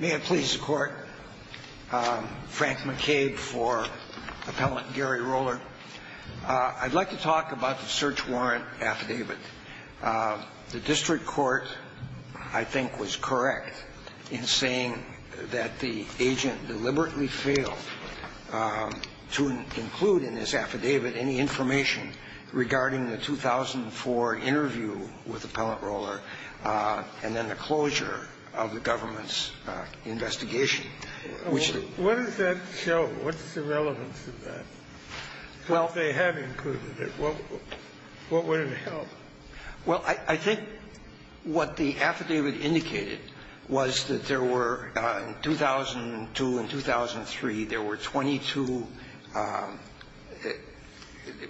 May it please the Court, Frank McCabe for Appellant Gary Roller. I'd like to talk about the search warrant affidavit. The district court, I think, was correct in saying that the agent deliberately failed to include in this affidavit any information regarding the 2004 interview with Appellant Roller and then the closure of the government's investigation. Which the What does that show? What's the relevance of that? Well, if they had included it, what would it help? Well, I think what the affidavit indicated was that there were, in 2002 and 2003, there were 22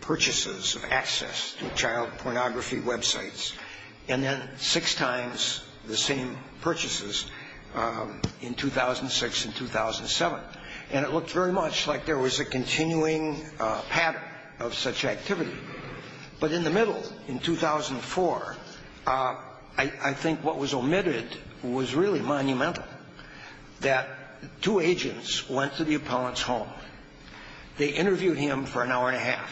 purchases of access to child pornography websites. And then six times the same purchases in 2006 and 2007. And it looked very much like there was a continuing pattern of such activity. But in the middle, in 2004, I think what was omitted was really monumental, that two agents went to the appellant's home. They interviewed him for an hour and a half.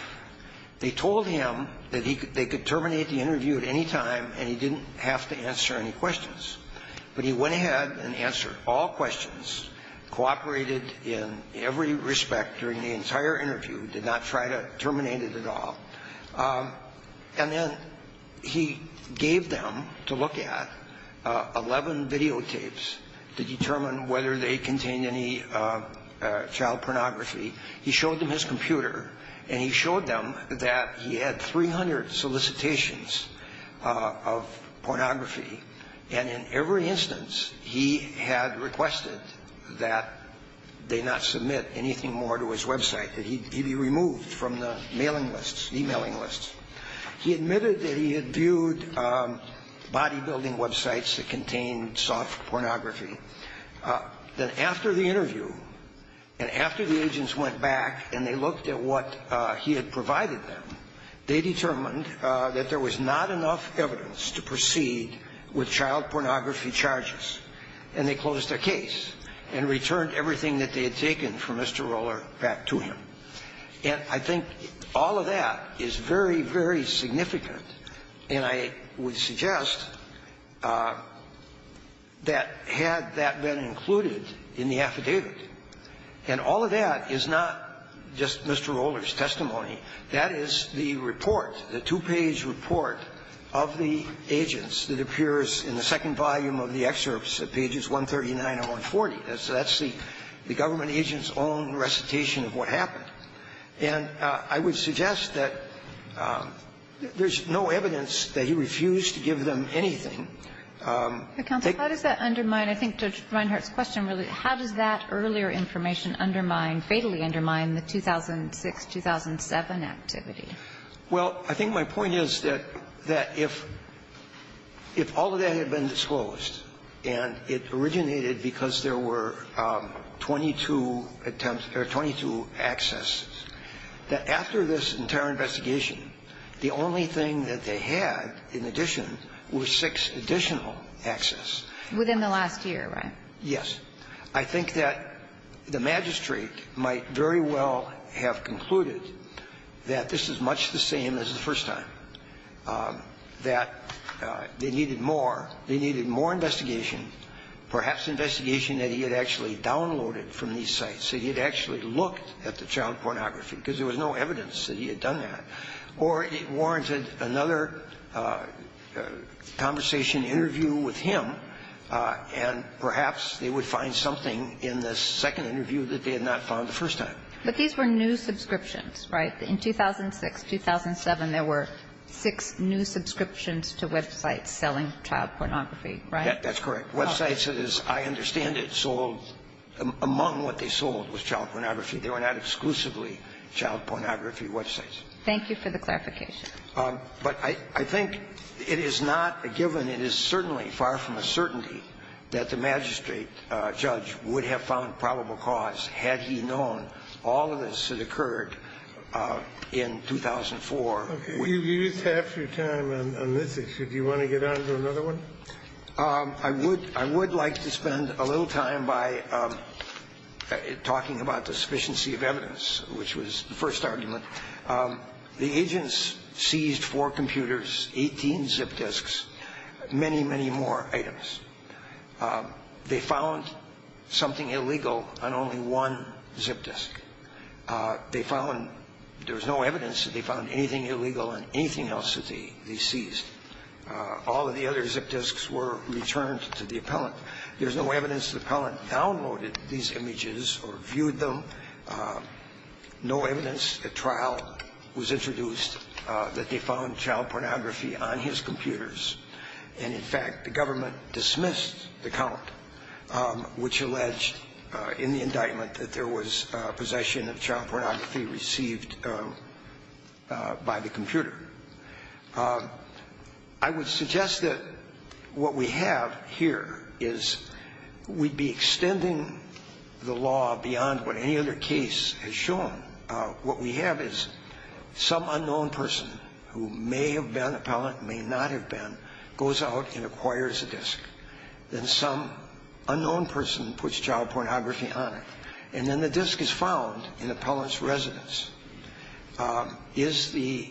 They told him that they could terminate the interview at any time and he didn't have to answer any questions. But he went ahead and answered all questions, cooperated in every respect during the entire interview, did not try to terminate it at all. And then he gave them to look at 11 videotapes to determine whether they contained any child pornography. He showed them his computer and he showed them that he had 300 solicitations of pornography. And in every instance, he had requested that they not submit anything more to his website, that he be removed from the mailing lists, e-mailing lists. He admitted that he had viewed bodybuilding websites that contained soft pornography. Then after the interview and after the agents went back and they looked at what he had provided them, they determined that there was not enough evidence to proceed with child pornography charges. And they closed their case and returned everything that they had taken from Mr. Roller back to him. And I think all of that is very, very significant. And I would suggest that had that been included in the affidavit, and all of that is not just Mr. Roller's testimony, that is the report, the two-page report of the agents that appears in the second volume of the excerpts at pages 139 and 140. That's the government agent's own recitation of what happened. And I would suggest that there's no evidence that he refused to give them anything. Kagan, how does that undermine, I think Judge Reinhart's question really, how does that earlier information undermine, fatally undermine, the 2006-2007 activity? Well, I think my point is that if all of that had been disclosed and it originated because there were 22 attempts or 22 accesses, that after this entire investigation, the only thing that they had in addition was six additional accesses. Within the last year, right? Yes. I think that the magistrate might very well have concluded that this is much the same as the first time, that they needed more. They needed more investigation, perhaps investigation that he had actually downloaded from these sites, that he had actually looked at the child pornography, because there was no evidence that he had done that. Or it warranted another conversation, interview with him, and perhaps they would find something in the second interview that they had not found the first time. But these were new subscriptions, right? In 2006-2007, there were six new subscriptions to websites selling child pornography, right? That's correct. Websites, as I understand it, sold among what they sold was child pornography. They were not exclusively child pornography websites. Thank you for the clarification. But I think it is not a given. It is certainly far from a certainty that the magistrate, Judge, would have found a probable cause had he known all of this had occurred in 2004. You used half your time on this issue. Do you want to get on to another one? I would like to spend a little time by talking about the sufficiency of evidence, which was the first argument. The agents seized four computers, 18 zip disks, many, many more items. They found something illegal on only one zip disk. They found no evidence that they found anything illegal on anything else that they seized. All of the other zip disks were returned to the appellant. There's no evidence the appellant downloaded these images or viewed them. No evidence at trial was introduced that they found child pornography on his computers. And, in fact, the government dismissed the count, which alleged in the indictment that there was possession of child pornography received by the computer. I would suggest that what we have here is we'd be extending the law beyond what any other case has shown. What we have is some unknown person who may have been appellant, may not have been, goes out and acquires a disk. Then some unknown person puts child pornography on it. And then the disk is found in the appellant's residence. Is the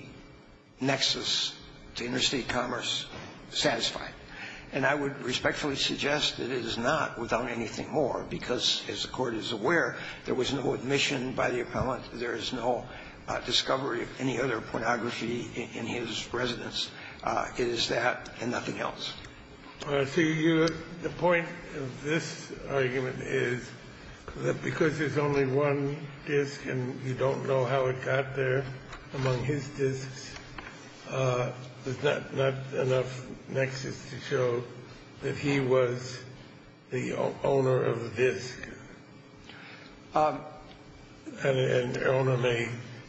nexus to interstate commerce satisfied? And I would respectfully suggest it is not without anything more because, as the Court is aware, there was no admission by the appellant. There is no discovery of any other pornography in his residence. It is that and nothing else. The point of this argument is that because there's only one disk and you don't know how it got there among his disks, there's not enough nexus to show that he was the actual owner of the disk. And the owner may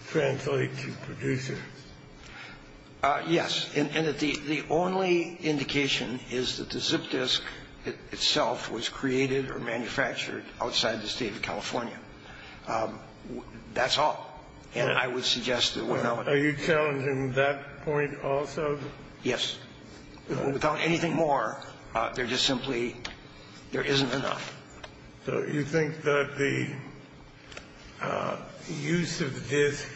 translate to producer. Yes. And the only indication is that the zip disk itself was created or manufactured outside the State of California. That's all. And I would suggest that without anything more. Are you challenging that point also? Yes. Without anything more, there just simply isn't enough. So you think that the use of the disk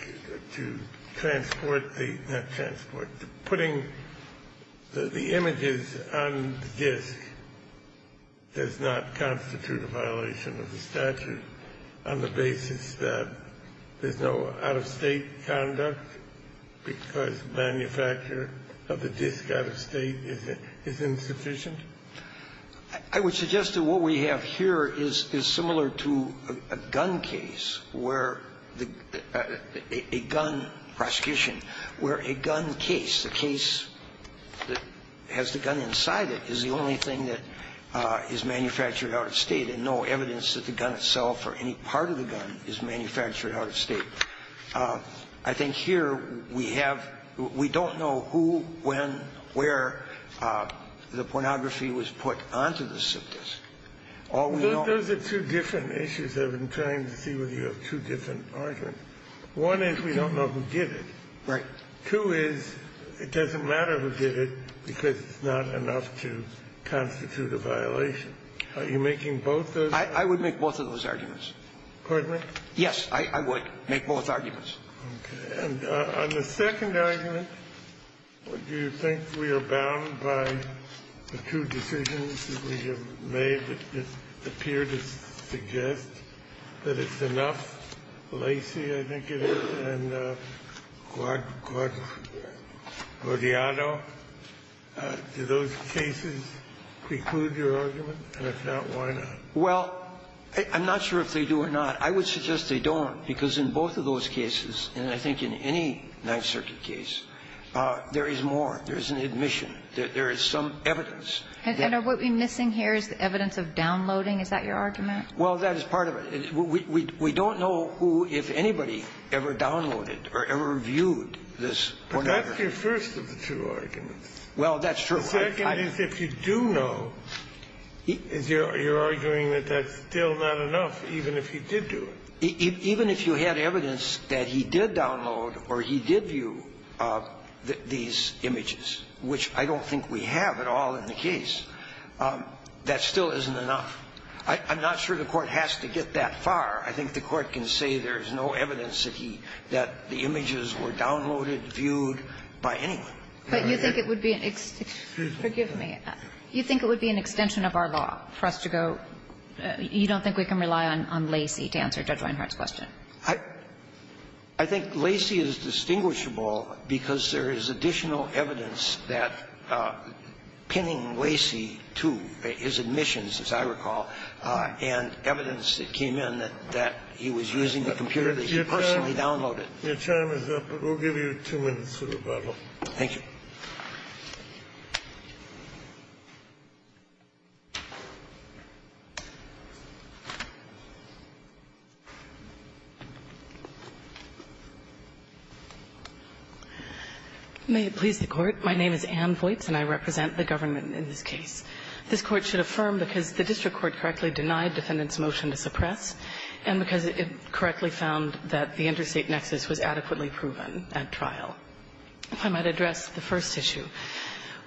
to transport the – not transport. Putting the images on the disk does not constitute a violation of the statute on the basis that there's no out-of-State conduct because the manufacturer of the disk out-of-State is insufficient? I would suggest that what we have here is similar to a gun case where a gun prosecution where a gun case, a case that has the gun inside it, is the only thing that is manufactured out-of-State and no evidence that the gun itself or any part of the gun is manufactured out-of-State. I think here we have – we don't know who, when, where the pornography was put onto the zip disk. All we know – Those are two different issues. I've been trying to see whether you have two different arguments. One is we don't know who did it. Right. Two is it doesn't matter who did it because it's not enough to constitute a violation. Are you making both those? I would make both of those arguments. Pardon me? Yes, I would make both arguments. Okay. And on the second argument, do you think we are bound by the two decisions that we have made that appear to suggest that it's enough? Lacey, I think it is, and Guardiano, do those cases preclude your argument? And if not, why not? Well, I'm not sure if they do or not. I would suggest they don't, because in both of those cases, and I think in any Ninth Circuit case, there is more, there is an admission, there is some evidence. And are we missing here is the evidence of downloading? Is that your argument? Well, that is part of it. We don't know who, if anybody, ever downloaded or ever viewed this pornography. But that's your first of the two arguments. Well, that's true. The second is if you do know, you're arguing that that's still not enough, even if he did do it. Even if you had evidence that he did download or he did view these images, which I don't think we have at all in the case, that still isn't enough. I'm not sure the Court has to get that far. I think the Court can say there is no evidence that he – that the images were downloaded, viewed by anyone. But you think it would be an – excuse me. You think it would be an extension of our law for us to go – you don't think we can rely on Lacey to answer Judge Leinhart's question? I think Lacey is distinguishable because there is additional evidence that pinning Lacey to his admissions, as I recall, and evidence that came in that he was using the computer that he personally downloaded. Your time is up, but we'll give you two minutes to rebuttal. Thank you. May it please the Court. My name is Ann Voights, and I represent the government in this case. This Court should affirm because the district court correctly denied defendant's motion to suppress, and because it correctly found that the interstate nexus was adequately proven at trial. If I might address the first issue.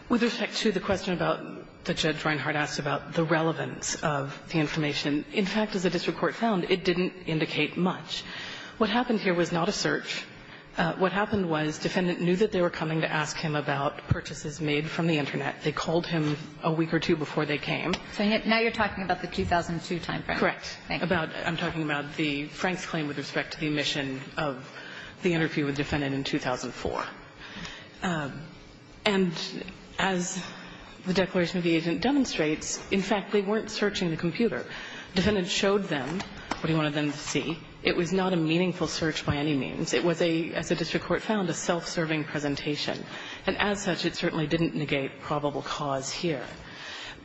With respect to the question about – that Judge Reinhart asked about the relevance of the information. In fact, as the district court found, it didn't indicate much. What happened here was not a search. What happened was defendant knew that they were coming to ask him about purchases made from the Internet. They called him a week or two before they came. So now you're talking about the 2002 time frame. Correct. I'm talking about the Frank's claim with respect to the omission of the interview with the defendant in 2004. And as the declaration of the agent demonstrates, in fact, they weren't searching the computer. Defendant showed them what he wanted them to see. It was not a meaningful search by any means. It was a, as the district court found, a self-serving presentation. And as such, it certainly didn't negate probable cause here,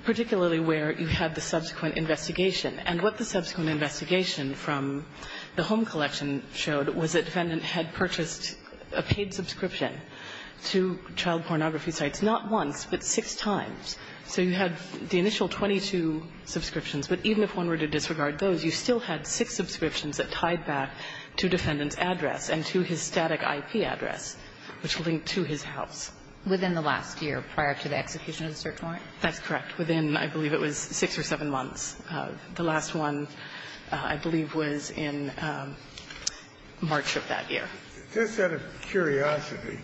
particularly where you had the subsequent investigation. And what the subsequent investigation from the home collection showed was that defendant had purchased a paid subscription to child pornography sites, not once, but six times. So you had the initial 22 subscriptions, but even if one were to disregard those, you still had six subscriptions that tied back to defendant's address and to his static IP address, which linked to his house. Within the last year prior to the execution of the search warrant? That's correct. Within, I believe it was six or seven months. The last one, I believe, was in March of that year. Just out of curiosity,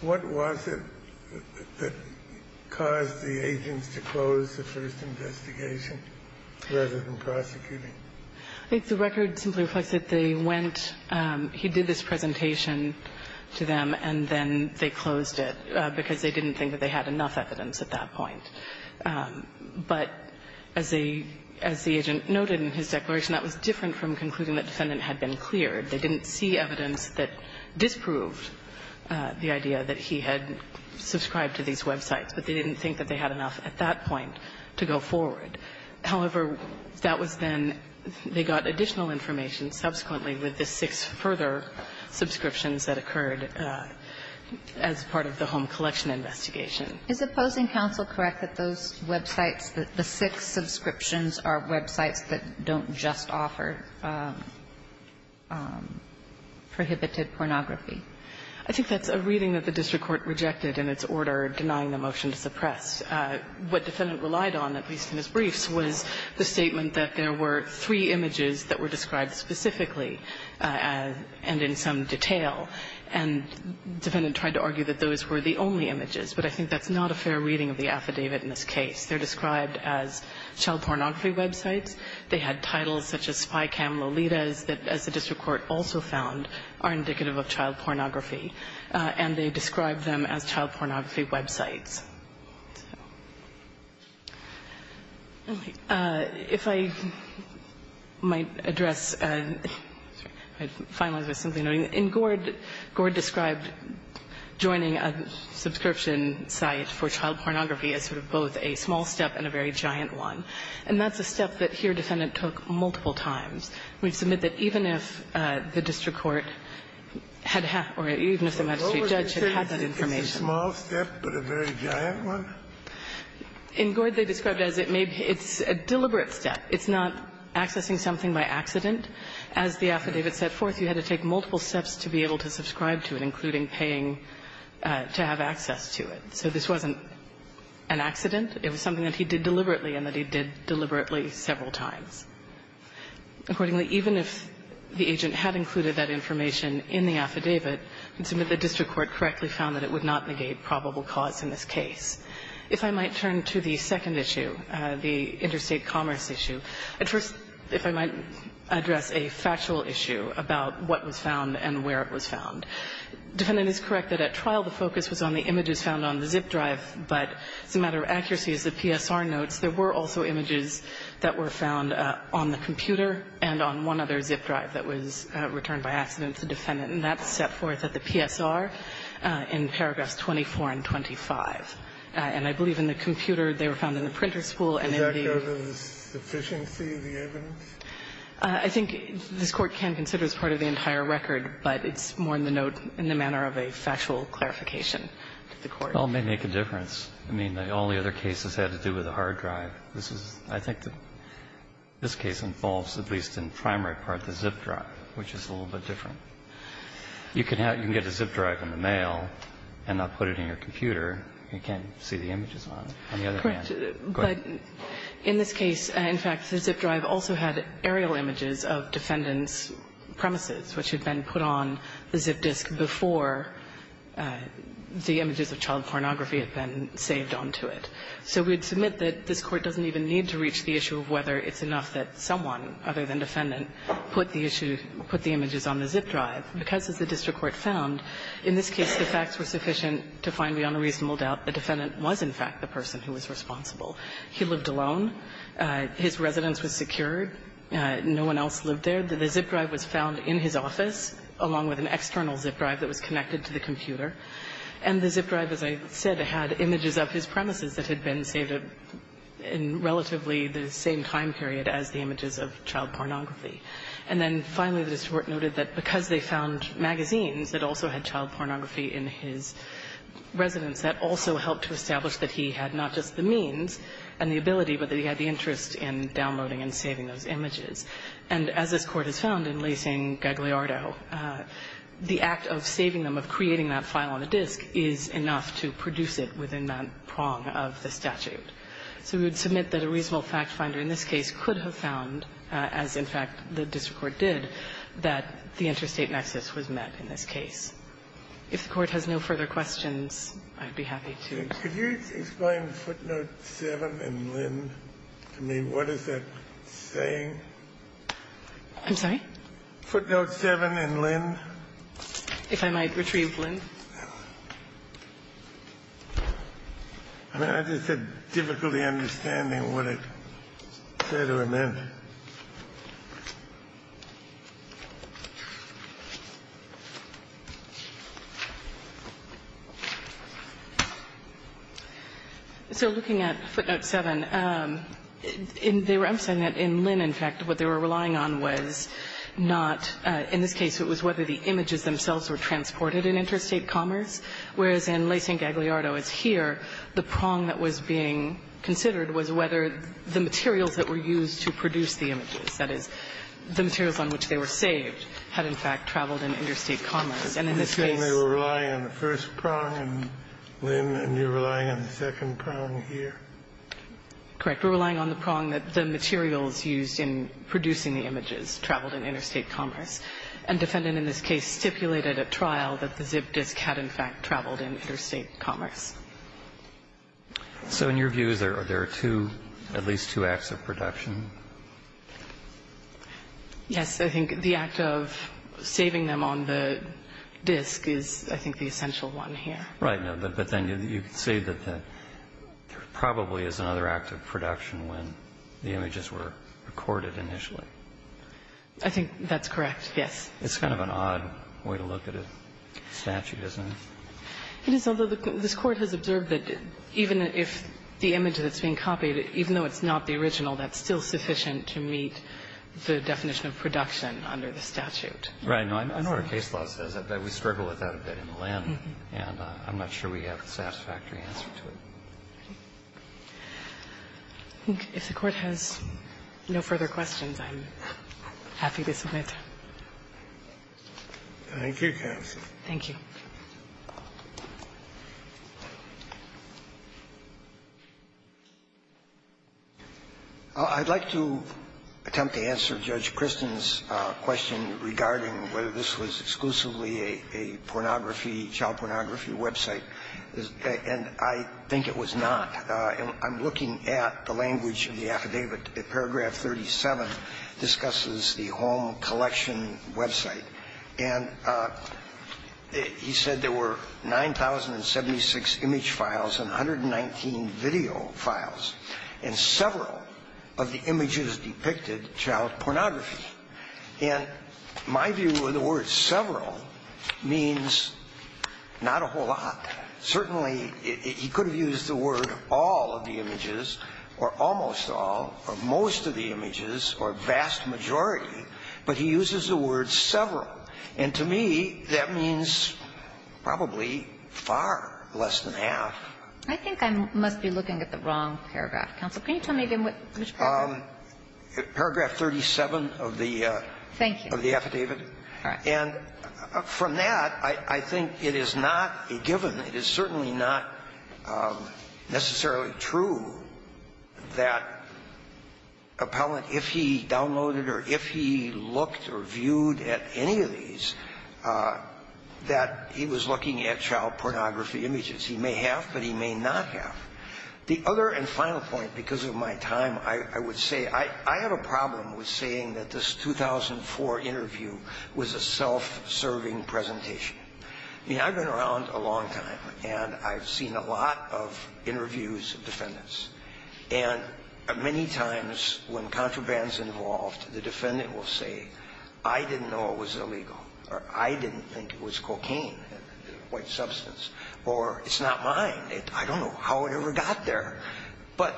what was it that caused the agents to close the first investigation rather than prosecuting? I think the record simply reflects that they went. He did this presentation to them, and then they closed it because they didn't think that they had enough evidence at that point. But as the agent noted in his declaration, that was different from concluding that defendant had been cleared. They didn't see evidence that disproved the idea that he had subscribed to these websites, but they didn't think that they had enough at that point to go forward. However, that was then they got additional information subsequently with the six further subscriptions that occurred as part of the home collection investigation. Is opposing counsel correct that those websites, the six subscriptions are websites that don't just offer prohibited pornography? I think that's a reading that the district court rejected in its order denying the motion to suppress. What defendant relied on, at least in his briefs, was the statement that there were three images that were described specifically and in some detail. And the defendant tried to argue that those were the only images. But I think that's not a fair reading of the affidavit in this case. They're described as child pornography websites. They had titles such as Spycam Lolitas that, as the district court also found, are indicative of child pornography. And they described them as child pornography websites. If I might address, I'd finalize by simply noting that in Gord, Gord described joining a subscription site for child pornography as sort of both a small step and a very giant one. And that's a step that here Defendant took multiple times. We submit that even if the district court had had or even if the magistrate judge had had that information. It's not a small step, but a very giant one? In Gord, they described it as it may be. It's a deliberate step. It's not accessing something by accident. As the affidavit set forth, you had to take multiple steps to be able to subscribe to it, including paying to have access to it. So this wasn't an accident. It was something that he did deliberately and that he did deliberately several times. Accordingly, even if the agent had included that information in the affidavit, we submit the district court correctly found that it would not negate probable cause in this case. If I might turn to the second issue, the interstate commerce issue. First, if I might address a factual issue about what was found and where it was found. Defendant is correct that at trial the focus was on the images found on the zip drive, but as a matter of accuracy, as the PSR notes, there were also images that were found on the computer and on one other zip drive that was returned by accident to the defendant. And that's set forth at the PSR in paragraphs 24 and 25. And I believe in the computer, they were found in the printer spool and in the other one. The efficiency of the evidence? I think this Court can consider as part of the entire record, but it's more in the note in the manner of a factual clarification to the Court. Well, it may make a difference. I mean, all the other cases had to do with a hard drive. This is, I think, this case involves at least in the primary part the zip drive, which is a little bit different. You can get a zip drive in the mail and not put it in your computer. You can't see the images on it. On the other hand, go ahead. Correct. But in this case, in fact, the zip drive also had aerial images of defendant's premises, which had been put on the zip disk before the images of child pornography had been saved onto it. So we would submit that this Court doesn't even need to reach the issue of whether it's enough that someone other than defendant put the issue, put the images on the zip drive, because as the district court found, in this case, the facts were sufficient to find beyond a reasonable doubt the defendant was, in fact, the person who was responsible. He lived alone. His residence was secured. No one else lived there. The zip drive was found in his office along with an external zip drive that was connected to the computer. And the zip drive, as I said, had images of his premises that had been saved in relatively the same time period as the images of child pornography. And then finally, the district court noted that because they found magazines that also had child pornography in his residence, that also helped to establish that he had not just the means and the ability, but that he had the interest in downloading and saving those images. And as this Court has found in Laysing-Gagliardo, the act of saving them, of creating that file on a disk, is enough to produce it within that prong of the statute. So we would submit that a reasonable fact finder in this case could have found, as in fact the district court did, that the interstate nexus was met in this case. If the Court has no further questions, I'd be happy to go. Kennedy, could you explain footnote 7 and Lynn to me? What is that saying? I'm sorry? Footnote 7 and Lynn. If I might retrieve Lynn. I mean, I just said difficultly understanding what it said or meant. So looking at footnote 7, they were emphasizing that in Lynn, in fact, what they were relying on was not, in this case, it was whether the images themselves were transported in interstate commerce, whereas in Laysing-Gagliardo as here, the prong that was being considered was whether the materials that were used to produce the images, that is, the materials on which they were saved, had in fact traveled in interstate commerce. And in this case they were relying on the first prong in Lynn, and you're relying on the second prong here? Correct. We're relying on the prong that the materials used in producing the images traveled in interstate commerce. And defendant in this case stipulated at trial that the zip disk had in fact traveled in interstate commerce. So in your views, are there two, at least two acts of production? Yes. I think the act of saving them on the disk is, I think, the essential one here. Right. But then you say that there probably is another act of production when the images were recorded initially. I think that's correct, yes. It's kind of an odd way to look at a statute, isn't it? It is, although this Court has observed that even if the image that's being copied, even though it's not the original, that's still sufficient to meet the definition of production under the statute. Right. I know our case law says that, but we struggle with that a bit in Lynn. And I'm not sure we have a satisfactory answer to it. If the Court has no further questions, I'm happy to submit. Thank you, counsel. Thank you. I'd like to attempt to answer Judge Kristin's question regarding whether this was exclusively a pornography, child pornography website, and I think it was not. I'm looking at the language of the affidavit. Paragraph 37 discusses the home collection website. And he said there were 9,076 image files and 119 video files, and several of the images depicted child pornography. And my view of the word several means not a whole lot. Certainly, he could have used the word all of the images or almost all or most of the And to me, that means probably far less than half. I think I must be looking at the wrong paragraph, counsel. Can you tell me again which paragraph? Paragraph 37 of the affidavit. Thank you. And from that, I think it is not a given. It is certainly not necessarily true that Appellant, if he downloaded or if he looked or viewed at any of these, that he was looking at child pornography images. He may have, but he may not have. The other and final point, because of my time, I would say I have a problem with saying that this 2004 interview was a self-serving presentation. I mean, I've been around a long time, and I've seen a lot of interviews of defendants. And many times when contraband is involved, the defendant will say, I didn't know it was illegal, or I didn't think it was cocaine, a white substance, or it's not mine. I don't know how it ever got there. But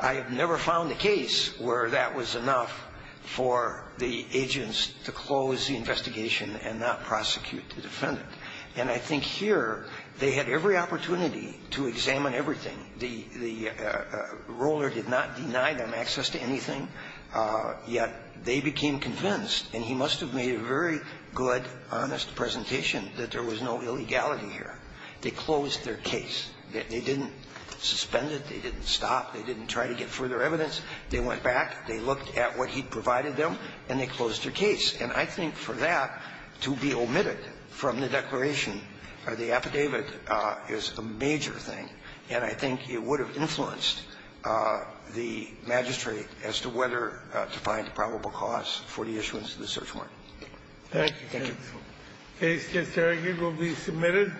I have never found a case where that was enough for the agents to close the investigation and not prosecute the defendant. And I think here, they had every opportunity to examine everything. The roller did not deny them access to anything, yet they became convinced, and he must have made a very good, honest presentation, that there was no illegality here. They closed their case. They didn't suspend it. They didn't stop. They didn't try to get further evidence. They went back. They looked at what he provided them, and they closed their case. And I think for that to be omitted from the declaration or the affidavit is a major thing, and I think it would have influenced the magistrate as to whether to find probable cause for the issuance of the search warrant. Thank you. Thank you. The case, Mr. Harrigan, will be submitted.